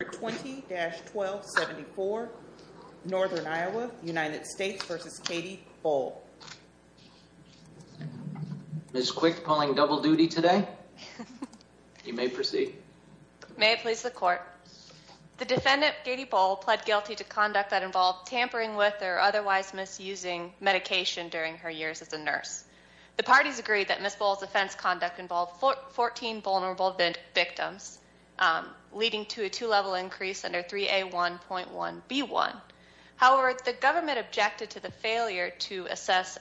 Ms. Quick calling double duty today. You may proceed. May it please the court. The defendant Katie Boll pled guilty to conduct that involved tampering with or otherwise misusing medication during her years as a nurse. The parties agreed that Ms. Boll's offense conduct involved 14 vulnerable victims, leading to a two-level increase under 3A1.1B1. However, the government objected to the failure to assess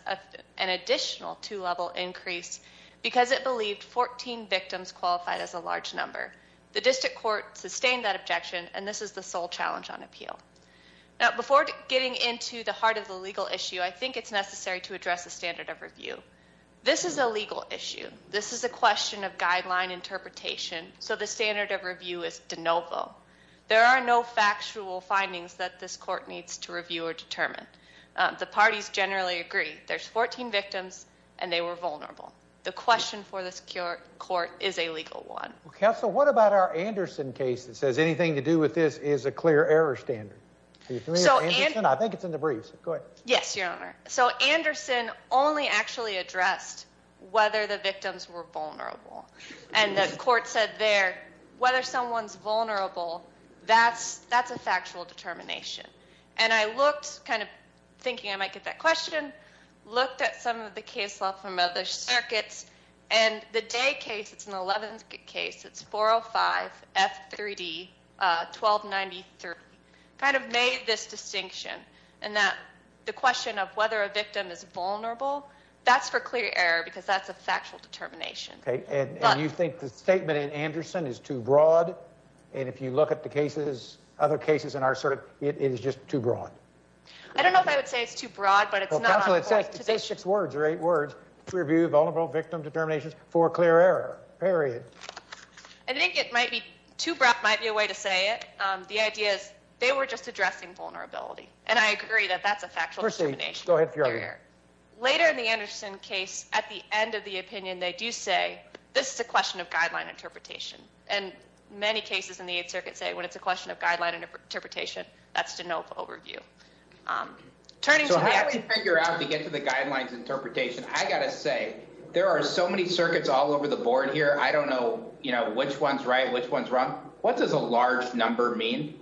an additional two-level increase because it believed 14 victims qualified as a large number. The district court sustained that objection, and this is the sole challenge on appeal. Now, before getting into the heart of the legal issue, I think it's necessary to address the standard of review. This is a legal issue. This is a question of guideline interpretation, so the standard of review is de novo. There are no factual findings that this court needs to review or determine. The parties generally agree there's 14 victims, and they were vulnerable. The question for this court is a legal one. Counsel, what about our Anderson case that says anything to do with this is a clear error standard? Do you agree with Anderson? I think it's in the briefs. Go ahead. Yes, Your Honor. So Anderson only actually addressed whether the victims were vulnerable, and the court said there whether someone's vulnerable, that's a factual determination. And I looked, kind of thinking I might get that question, looked at some of the case law from other circuits, and the Day case, it's an 11th case, it's 405F3D1293, kind of made this distinction in that the question of whether a victim is vulnerable, that's for clear error because that's a factual determination. Okay, and you think the statement in Anderson is too broad, and if you look at the cases, other cases in our circuit, it is just too broad. I don't know if I would say it's too broad, but it's not. Counsel, it says six words or eight words, review vulnerable victim determinations for clear error, period. I think it might be too broad, might be a way to say it. The idea is they were just addressing vulnerability, and I agree that that's a factual determination. Later in the Anderson case, at the end of the opinion, they do say this is a question of guideline interpretation, and many cases in the Eighth Circuit say when it's a question of guideline interpretation, that's to know the overview. So how do we figure out to get to the guidelines interpretation? I got to say, there are so many circuits all over the board here, I don't know, you know, which one's right, which one's wrong. What does a large number mean?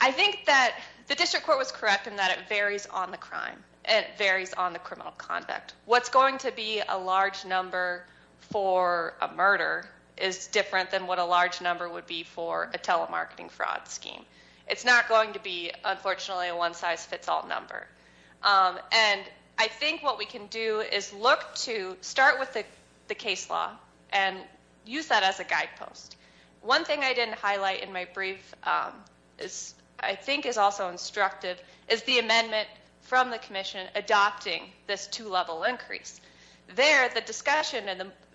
I think that the district court was correct in that it varies on the crime, and it varies on the criminal conduct. What's going to be a large number for a murder is different than what a large number would be for a telemarketing fraud scheme. It's not going to be, unfortunately, a one size fits all number. And I think what we can do is look to start with the case law and use that as a guidepost. One thing I didn't highlight in my brief is, I think is also instructive, is the amendment from the commission adopting this two-level increase. There, the discussion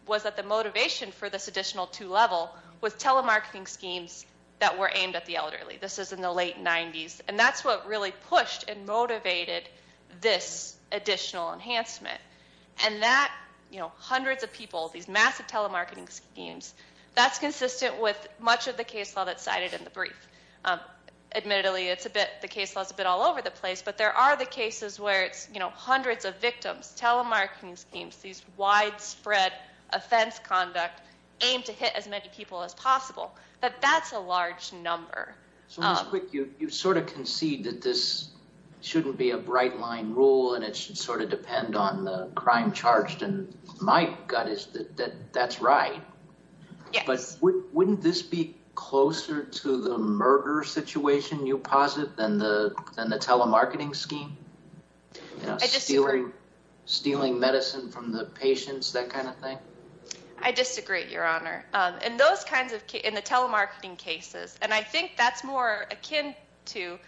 was that the motivation for this additional two-level was telemarketing schemes that were aimed at the elderly. This is in the late 90s, and that's what really pushed and motivated this additional enhancement. And that, you know, hundreds of people, these massive telemarketing schemes, that's consistent with much of the case law that's cited in the brief. Admittedly, it's a bit, the case law's a bit all over the place, but there are the cases where it's, you know, hundreds of victims, telemarketing schemes, these widespread offense conduct aimed to hit as many people as possible. But that's a large number. So just quick, you sort of concede that this shouldn't be a bright line rule, and it should sort of depend on the crime charged. And my gut is that that's right. Yes. But wouldn't this be closer to the murder situation, you posit, than the telemarketing scheme? I disagree. You know, stealing medicine from the patients, that kind of thing? I disagree, Your Honor. And those kinds of, in the telemarketing cases, and I think that's more akin to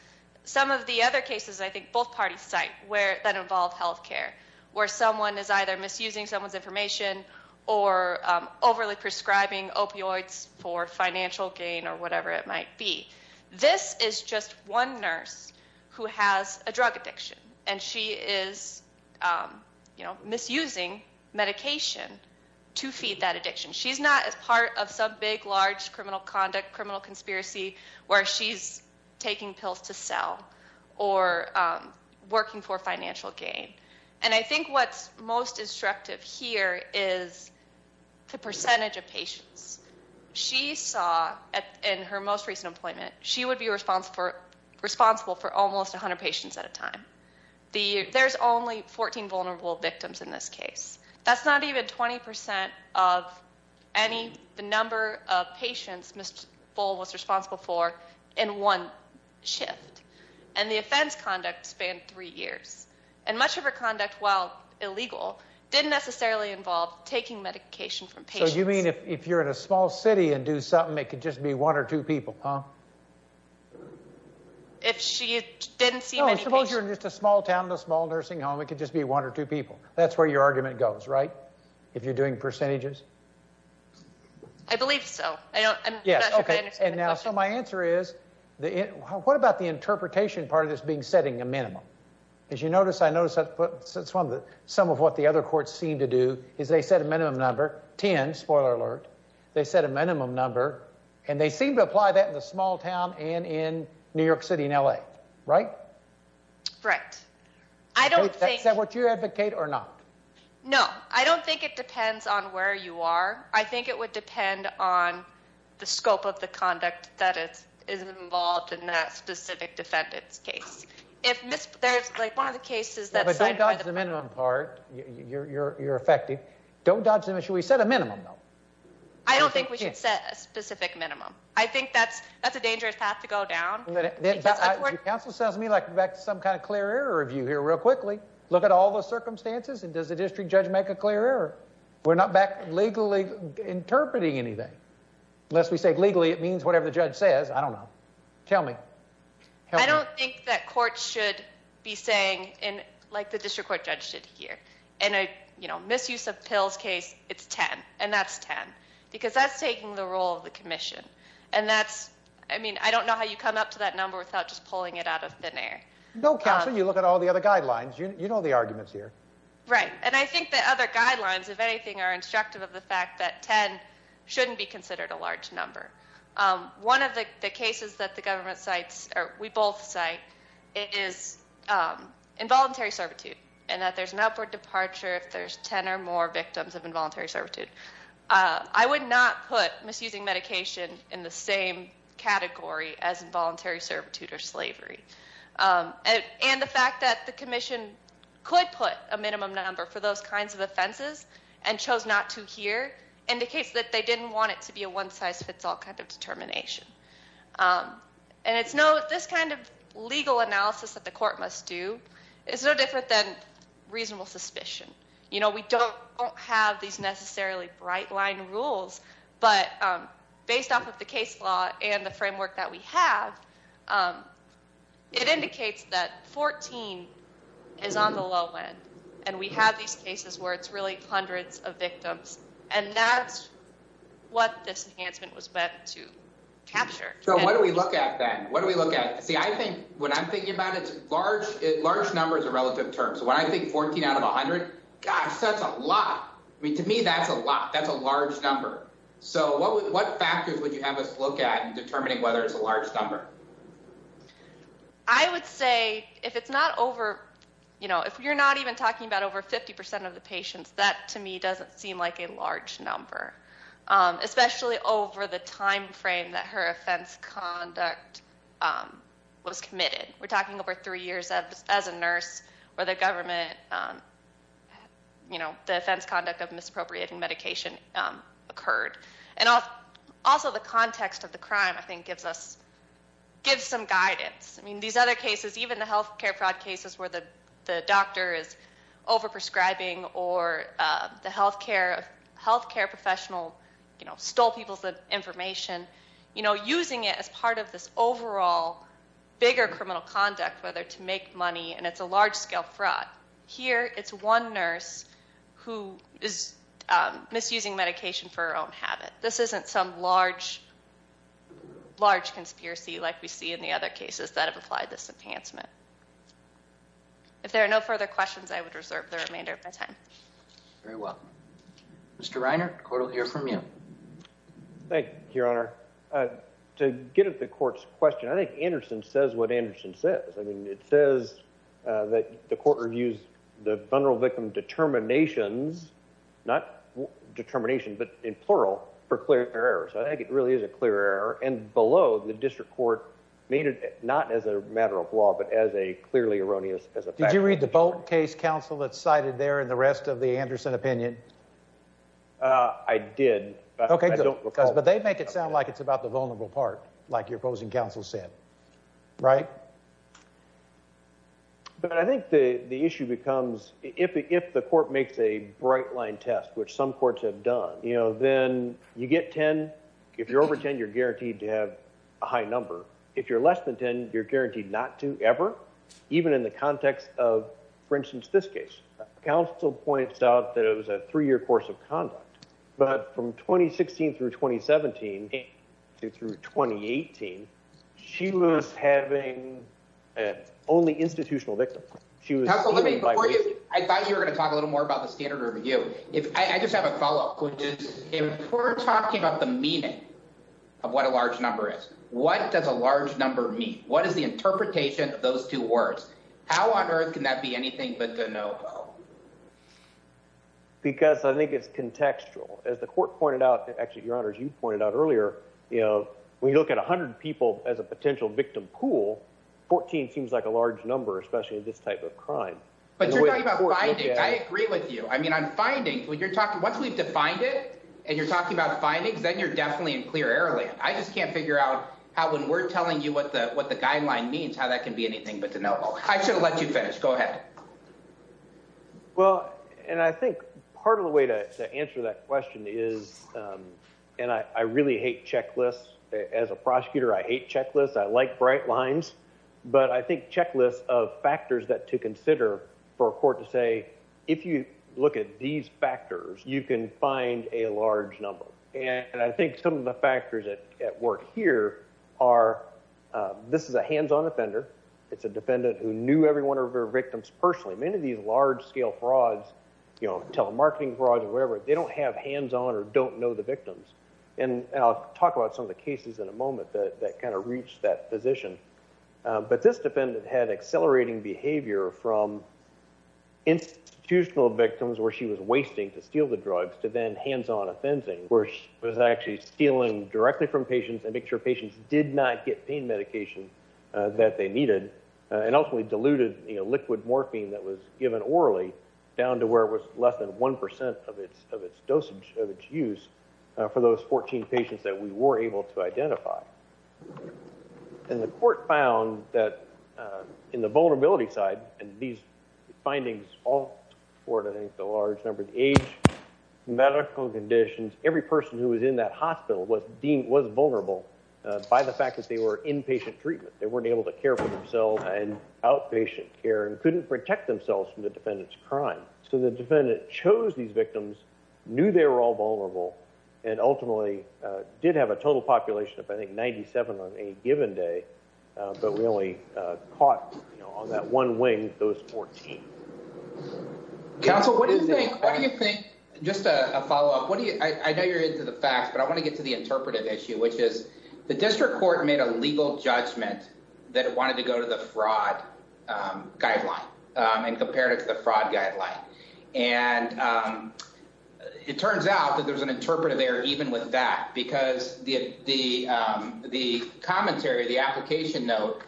some of the other cases, I think, both parties cite, where, that involve health care, where someone is either misusing someone's information or overly prescribing opioids for financial gain or whatever it might be. This is just one nurse who has a drug addiction, and she is, you know, misusing medication to feed that addiction. She's not a part of some big, large criminal conduct, criminal conspiracy where she's taking pills to sell or working for financial gain. And I think what's most destructive here is the percentage of patients. She saw, in her most recent appointment, she would be responsible for almost 100 patients at a time. There's only 14 vulnerable victims in this case. That's not even 20% of any, the number of patients Ms. Fole was responsible for in one shift. And the offense conduct spanned three years. And much of her conduct, while illegal, didn't necessarily involve taking medication from patients. So you mean if you're in a small city and do something, it could just be one or two people, huh? If she didn't see many patients. No, suppose you're in just a small town, a small nursing home, it could just be one or two people. That's where your argument goes, right? If you're doing percentages? I believe so. Yes, okay. And now, so my answer is, what about the interpretation part of this being setting a minimum? As you notice, I noticed that some of what the other courts seem to do is they set a minimum number, 10, spoiler alert, they set a minimum number, and they seem to apply that in the small town and in New York City and L.A., right? Right. I don't think... Is that what you advocate or not? No, I don't think it depends on where you are. I think it would depend on the scope of the conduct that is involved in that specific defendant's case. If there's like one of the cases that's... But don't dodge the minimum part. You're effective. Don't dodge the minimum. Should we set a minimum though? I don't think we should set a specific minimum. I think that's a dangerous path to go down. Your counsel sounds to me like we're back to some kind of clear error review here real quickly. Look at all the circumstances and does the district judge make a clear error? We're not back to legally interpreting anything. Unless we say legally, it means whatever the judge says. I don't know. Tell me. I don't think that courts should be saying, like the district court judge did here, in a misuse of pills case, it's 10. And that's 10. Because that's taking the role of the pulling it out of thin air. No, counsel. You look at all the other guidelines. You know the arguments here. Right. And I think the other guidelines, if anything, are instructive of the fact that 10 shouldn't be considered a large number. One of the cases that the government cites, or we both cite, is involuntary servitude. And that there's an upward departure if there's 10 or more victims of involuntary servitude. I would not put misusing medication in the same category as involuntary servitude or slavery. And the fact that the commission could put a minimum number for those kinds of offenses and chose not to here indicates that they didn't want it to be a one-size-fits-all kind of determination. And this kind of legal analysis that the court must do is no different than reasonable suspicion. You know, we don't have these necessarily bright-line rules, but based off of the case law and the framework that we have, it indicates that 14 is on the low end. And we have these cases where it's really hundreds of victims. And that's what this enhancement was meant to capture. So what do we look at then? What do we look at? See, I think, when I'm thinking about it, large number is a relative term. So when I think 14 out of 100, gosh, that's a lot. I mean, to me, that's a lot. That's a large number. So what factors would you have us look at in determining whether it's a large number? I would say if it's not over, you know, if you're not even talking about over 50 percent of the patients, that, to me, doesn't seem like a large number, especially over the time three years as a nurse where the government, you know, the offense conduct of misappropriating medication occurred. And also the context of the crime, I think, gives us, gives some guidance. I mean, these other cases, even the healthcare fraud cases where the doctor is over-prescribing or the healthcare professional, you know, stole people's information, you know, using it as part of this overall bigger criminal conduct, whether to make money, and it's a large-scale fraud. Here, it's one nurse who is misusing medication for her own habit. This isn't some large, large conspiracy like we see in the other cases that have applied this enhancement. If there are no further questions, I would reserve the remainder of my time. Very well. Mr. Reiner, the court will hear from you. Thank you, Your Honor. To get at the court's question, I think Anderson says what Anderson says. I mean, it says that the court reviews the vulnerable victim determinations, not determination, but in plural, for clear errors. I think it really is a clear error. And below, the district court made it not as a matter of law, but as a clearly erroneous, as a fact. Did you read the Bolt case counsel that's cited there and the rest of the Anderson opinion? I did. Okay, good. But they make it sound like it's about the vulnerable part, like your opposing counsel said, right? But I think the issue becomes, if the court makes a bright-line test, which some courts have done, you know, then you get 10. If you're over 10, you're guaranteed to have a high number. If you're less than 10, you're guaranteed not to ever, even in the context of, for instance, it was a three-year course of conduct. But from 2016 through 2017, through 2018, she was having only institutional victims. I thought you were going to talk a little more about the standard review. I just have a follow-up question. If we're talking about the meaning of what a large number is, what does a large number mean? What is the interpretation of those two words? How on earth can that be anything but de novo? Because I think it's contextual. As the court pointed out, actually, Your Honor, as you pointed out earlier, you know, when you look at 100 people as a potential victim pool, 14 seems like a large number, especially in this type of crime. But you're talking about findings. I agree with you. I mean, on findings, once we've defined it and you're talking about findings, then you're definitely in clear error lane. I just can't figure out how, when we're telling you what the guideline means, how that can be anything but de novo. I should have let you finish. Go ahead. Well, and I think part of the way to answer that question is, and I really hate checklists. As a prosecutor, I hate checklists. I like bright lines. But I think checklists of factors that to consider for a court to say, if you look at these factors, you can find a large number. And I think some of the factors at work here are, this is a hands-on offender. It's a defendant who knew every one of her victims personally. Many of these large-scale frauds, you know, telemarketing frauds or whatever, they don't have hands-on or don't know the victims. And I'll talk about some of the cases in a moment that kind of reached that position. But this defendant had accelerating behavior from institutional victims where she was wasting to steal the drugs to then hands-on offending, where she was actually stealing directly from patients and make sure patients did not get pain medication that they needed and ultimately diluted liquid morphine that was given orally down to where it was less than 1% of its dosage, of its use, for those 14 patients that we were able to identify. And the court found that in the vulnerability side, and these findings all coordinate the large number of age, medical conditions, every person who was in that hospital was deemed was vulnerable by the fact that they were inpatient treatment. They weren't able to care for themselves in outpatient care and couldn't protect themselves from the defendant's crime. So the defendant chose these victims, knew they were all vulnerable, and ultimately did have a total population of, I think, 97 on any given day, but we only caught on that one wing, those 14. Counsel, what do you think? Just a follow-up. I know you're into the facts, but I want to get to the interpretive issue, which is the district court made a legal judgment that it wanted to go to the fraud guideline and compared it to the fraud guideline. And it turns out that there's an interpretive error even with that, because the commentary, the application note,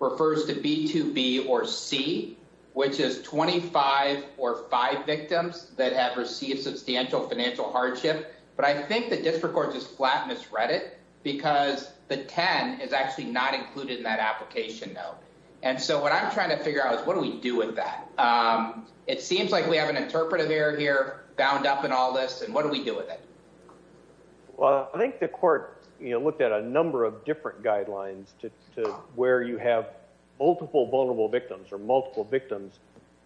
refers to B2B or C, which is 25 or 5 victims that have received substantial financial hardship. But I think the district court just flat misread it, because the 10 is actually not included in that application note. And so what I'm trying to figure out is what do we do with that? It seems like we have an interpretive error here bound up in all this, and what do we do with it? Well, I think the court looked at a number of different guidelines to where you have multiple vulnerable victims or multiple victims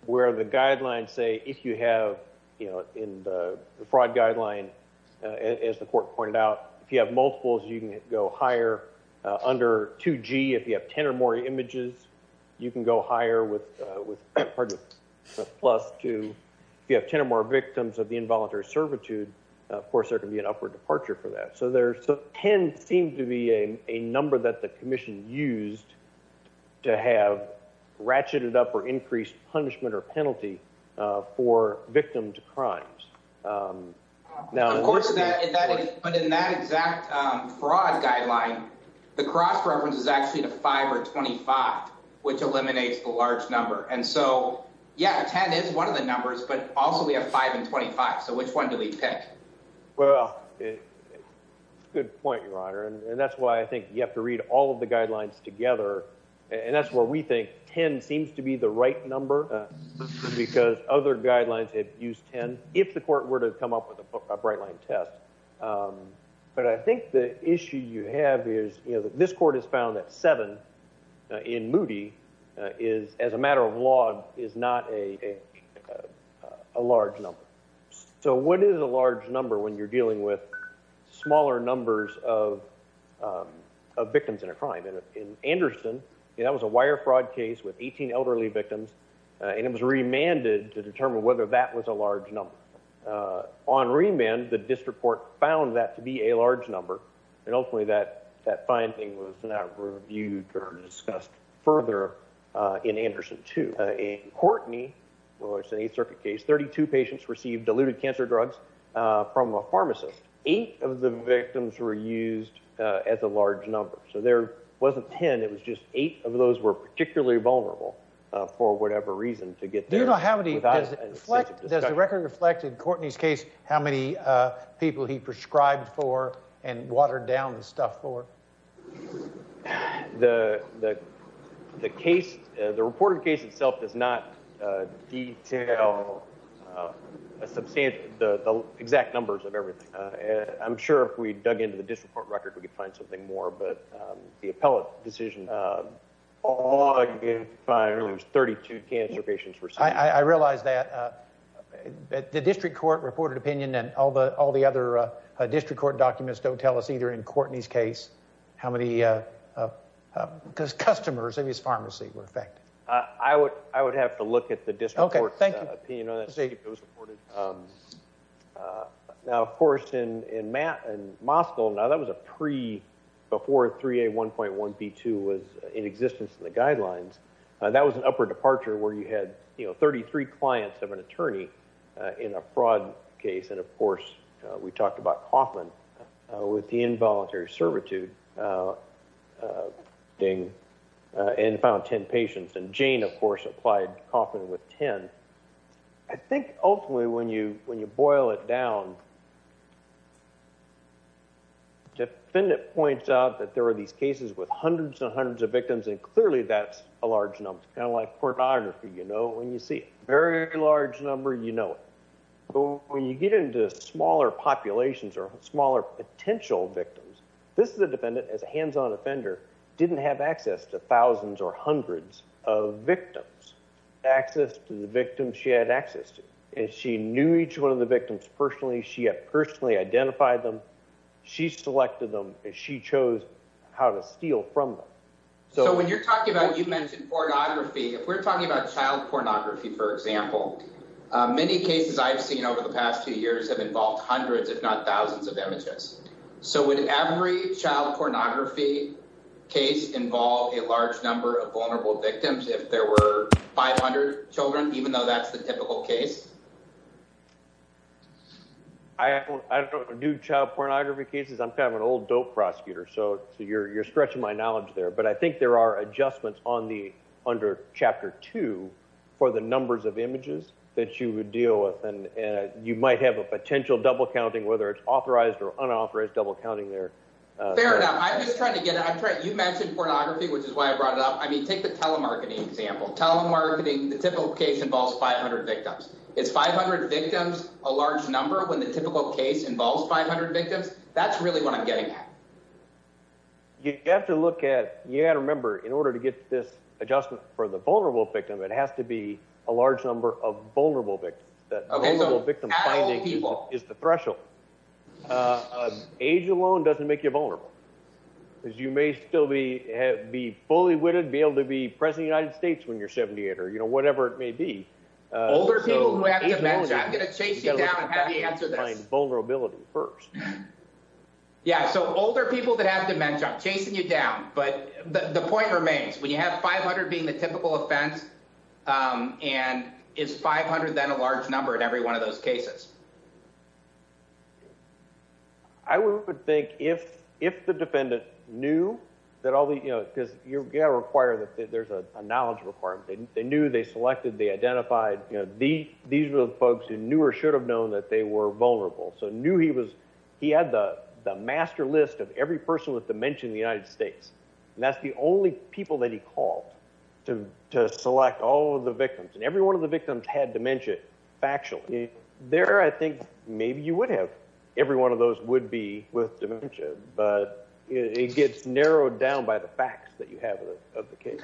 where the guidelines say if you have in the court pointed out, if you have multiples, you can go higher under 2G. If you have 10 or more images, you can go higher with plus 2. If you have 10 or more victims of the involuntary servitude, of course, there can be an upward departure for that. So 10 seemed to be a number that the commission used to have ratcheted up or increased punishment or penalty for victims of crimes. But in that exact fraud guideline, the cross reference is actually to 5 or 25, which eliminates the large number. And so, yeah, 10 is one of the numbers, but also we have 5 and 25. So which one do we pick? Well, good point, Your Honor. And that's why I think you have to read all of the guidelines together. And that's where we think 10 seems to be the right number, because other guidelines have used 10 if the court were to come up with a bright line test. But I think the issue you have is this court has found that 7 in Moody as a matter of law is not a large number. So what is a large number when you're dealing with smaller numbers of victims in a crime? In Anderson, that was a wire fraud case with 18 elderly victims, and it was remanded to that was a large number. On remand, the district court found that to be a large number, and ultimately that finding was not reviewed or discussed further in Anderson 2. In Courtney, which is an Eighth Circuit case, 32 patients received diluted cancer drugs from a pharmacist. Eight of the victims were used as a large number. So there wasn't 10, it was just eight of those were particularly vulnerable for whatever reason to get there. Does the record reflect in Courtney's case how many people he prescribed for and watered down the stuff for? The reported case itself does not detail the exact numbers of everything. I'm sure if we dug into the district court record we could find something more, but the appellate decision all I could find was 32 cancer patients received. I realize that. The district court reported opinion and all the other district court documents don't tell us either in Courtney's case how many customers of his pharmacy were affected. I would have to look at the district court's opinion on that to see if it was reported. Now, of course, in Moscow, that was before 3A1.1b2 was in existence in the guidelines. That was an upper departure where you had 33 clients of an attorney in a fraud case, and of course we talked about Kaufman with the involuntary servitude thing, and found 10 patients, and Jane, of course, applied Kaufman with 10. I think, ultimately, when you boil it down, the defendant points out that there are these cases with hundreds and hundreds of victims, and clearly that's a large number. It's kind of like pornography. You know it when you see it. Very large number, you know it. But when you get into smaller populations or smaller potential victims, this is a defendant as a hands-on offender, didn't have access to thousands or hundreds of victims. Access to the victims she had access to. She knew each one of the victims personally. She had personally identified them. She selected them, and she chose how to steal from them. So when you're talking about, you mentioned pornography. If we're talking about child pornography, for example, many cases I've seen over the past two years have involved hundreds, if not thousands, of images. So would every child pornography case involve a large number of vulnerable victims? If there were 500 children, even though that's the typical case? I don't do child pornography cases. I'm kind of an old dope prosecutor, so you're stretching my knowledge there. But I think there are adjustments under Chapter 2 for the numbers of images that you would Fair enough. I'm just trying to get it. You mentioned pornography, which is why I brought it up. I mean, take the telemarketing example. Telemarketing, the typical case involves 500 victims. Is 500 victims a large number when the typical case involves 500 victims? That's really what I'm getting at. You have to look at, you have to remember, in order to get this adjustment for the vulnerable victim, it has to be a large number of vulnerable victims. That vulnerable victim finding is the threshold. Age alone doesn't make you vulnerable. Because you may still be fully witted, be able to be President of the United States when you're 78, or whatever it may be. Older people who have dementia, I'm going to chase you down and have you answer this. You've got to find vulnerability first. Yeah, so older people that have dementia, chasing you down. But the point remains, when you have 500 being the typical offense, and is 500 then a large number in every one of those cases? I would think if the defendant knew that all these, because you've got to require that there's a knowledge requirement. They knew, they selected, they identified, these were the folks who knew or should have known that they were vulnerable. So knew he was, he had the master list of every person with dementia in the United States. And that's the only people that he called to select all of the victims. And every one of the victims had dementia, factually. There, I think, maybe you would have. Every one of those would be with dementia. But it gets narrowed down by the facts that you have of the case.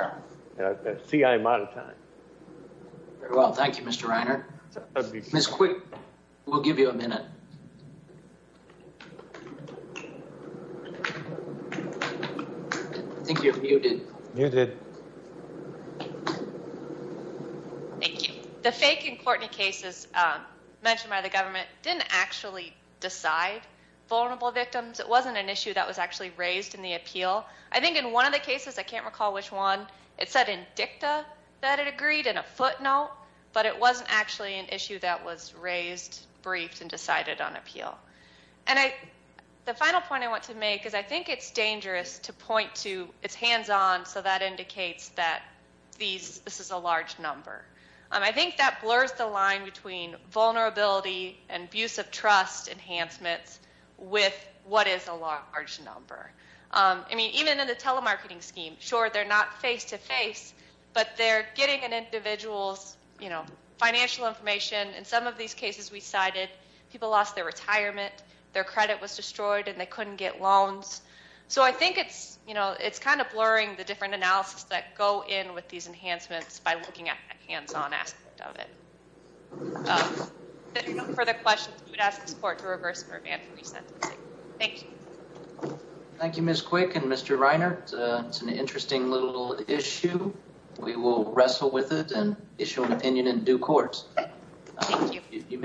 See, I'm out of time. Very well, thank you, Mr. Reiner. Ms. Quick, we'll give you a minute. I think you're muted. Muted. Thank you. The fake and Courtney cases mentioned by the government didn't actually decide vulnerable victims. It wasn't an issue that was actually raised in the appeal. I think in one of the cases, I can't recall which one, it said in dicta that it agreed, in a footnote, but it wasn't actually an issue that was raised, briefed, and decided on appeal. And the final point I want to make is I think it's dangerous to point to, it's hands-on, so that indicates that this is a large number. I think that blurs the line between vulnerability and abuse of trust enhancements with what is a large number. I mean, even in the telemarketing scheme, sure, they're not face-to-face, but they're getting an individual's financial information. In some of these cases we cited, people lost their retirement, their credit was destroyed, and they couldn't get loans. So I think it's kind of blurring the different analysis that go in with these enhancements by looking at the hands-on aspect of it. If there are no further questions, we would ask this Court to reverse the revamp and resentencing. Thank you. Thank you, Ms. Quick and Mr. Reiner. It's an interesting little issue. We will wrestle with it and issue an opinion in due course. Thank you.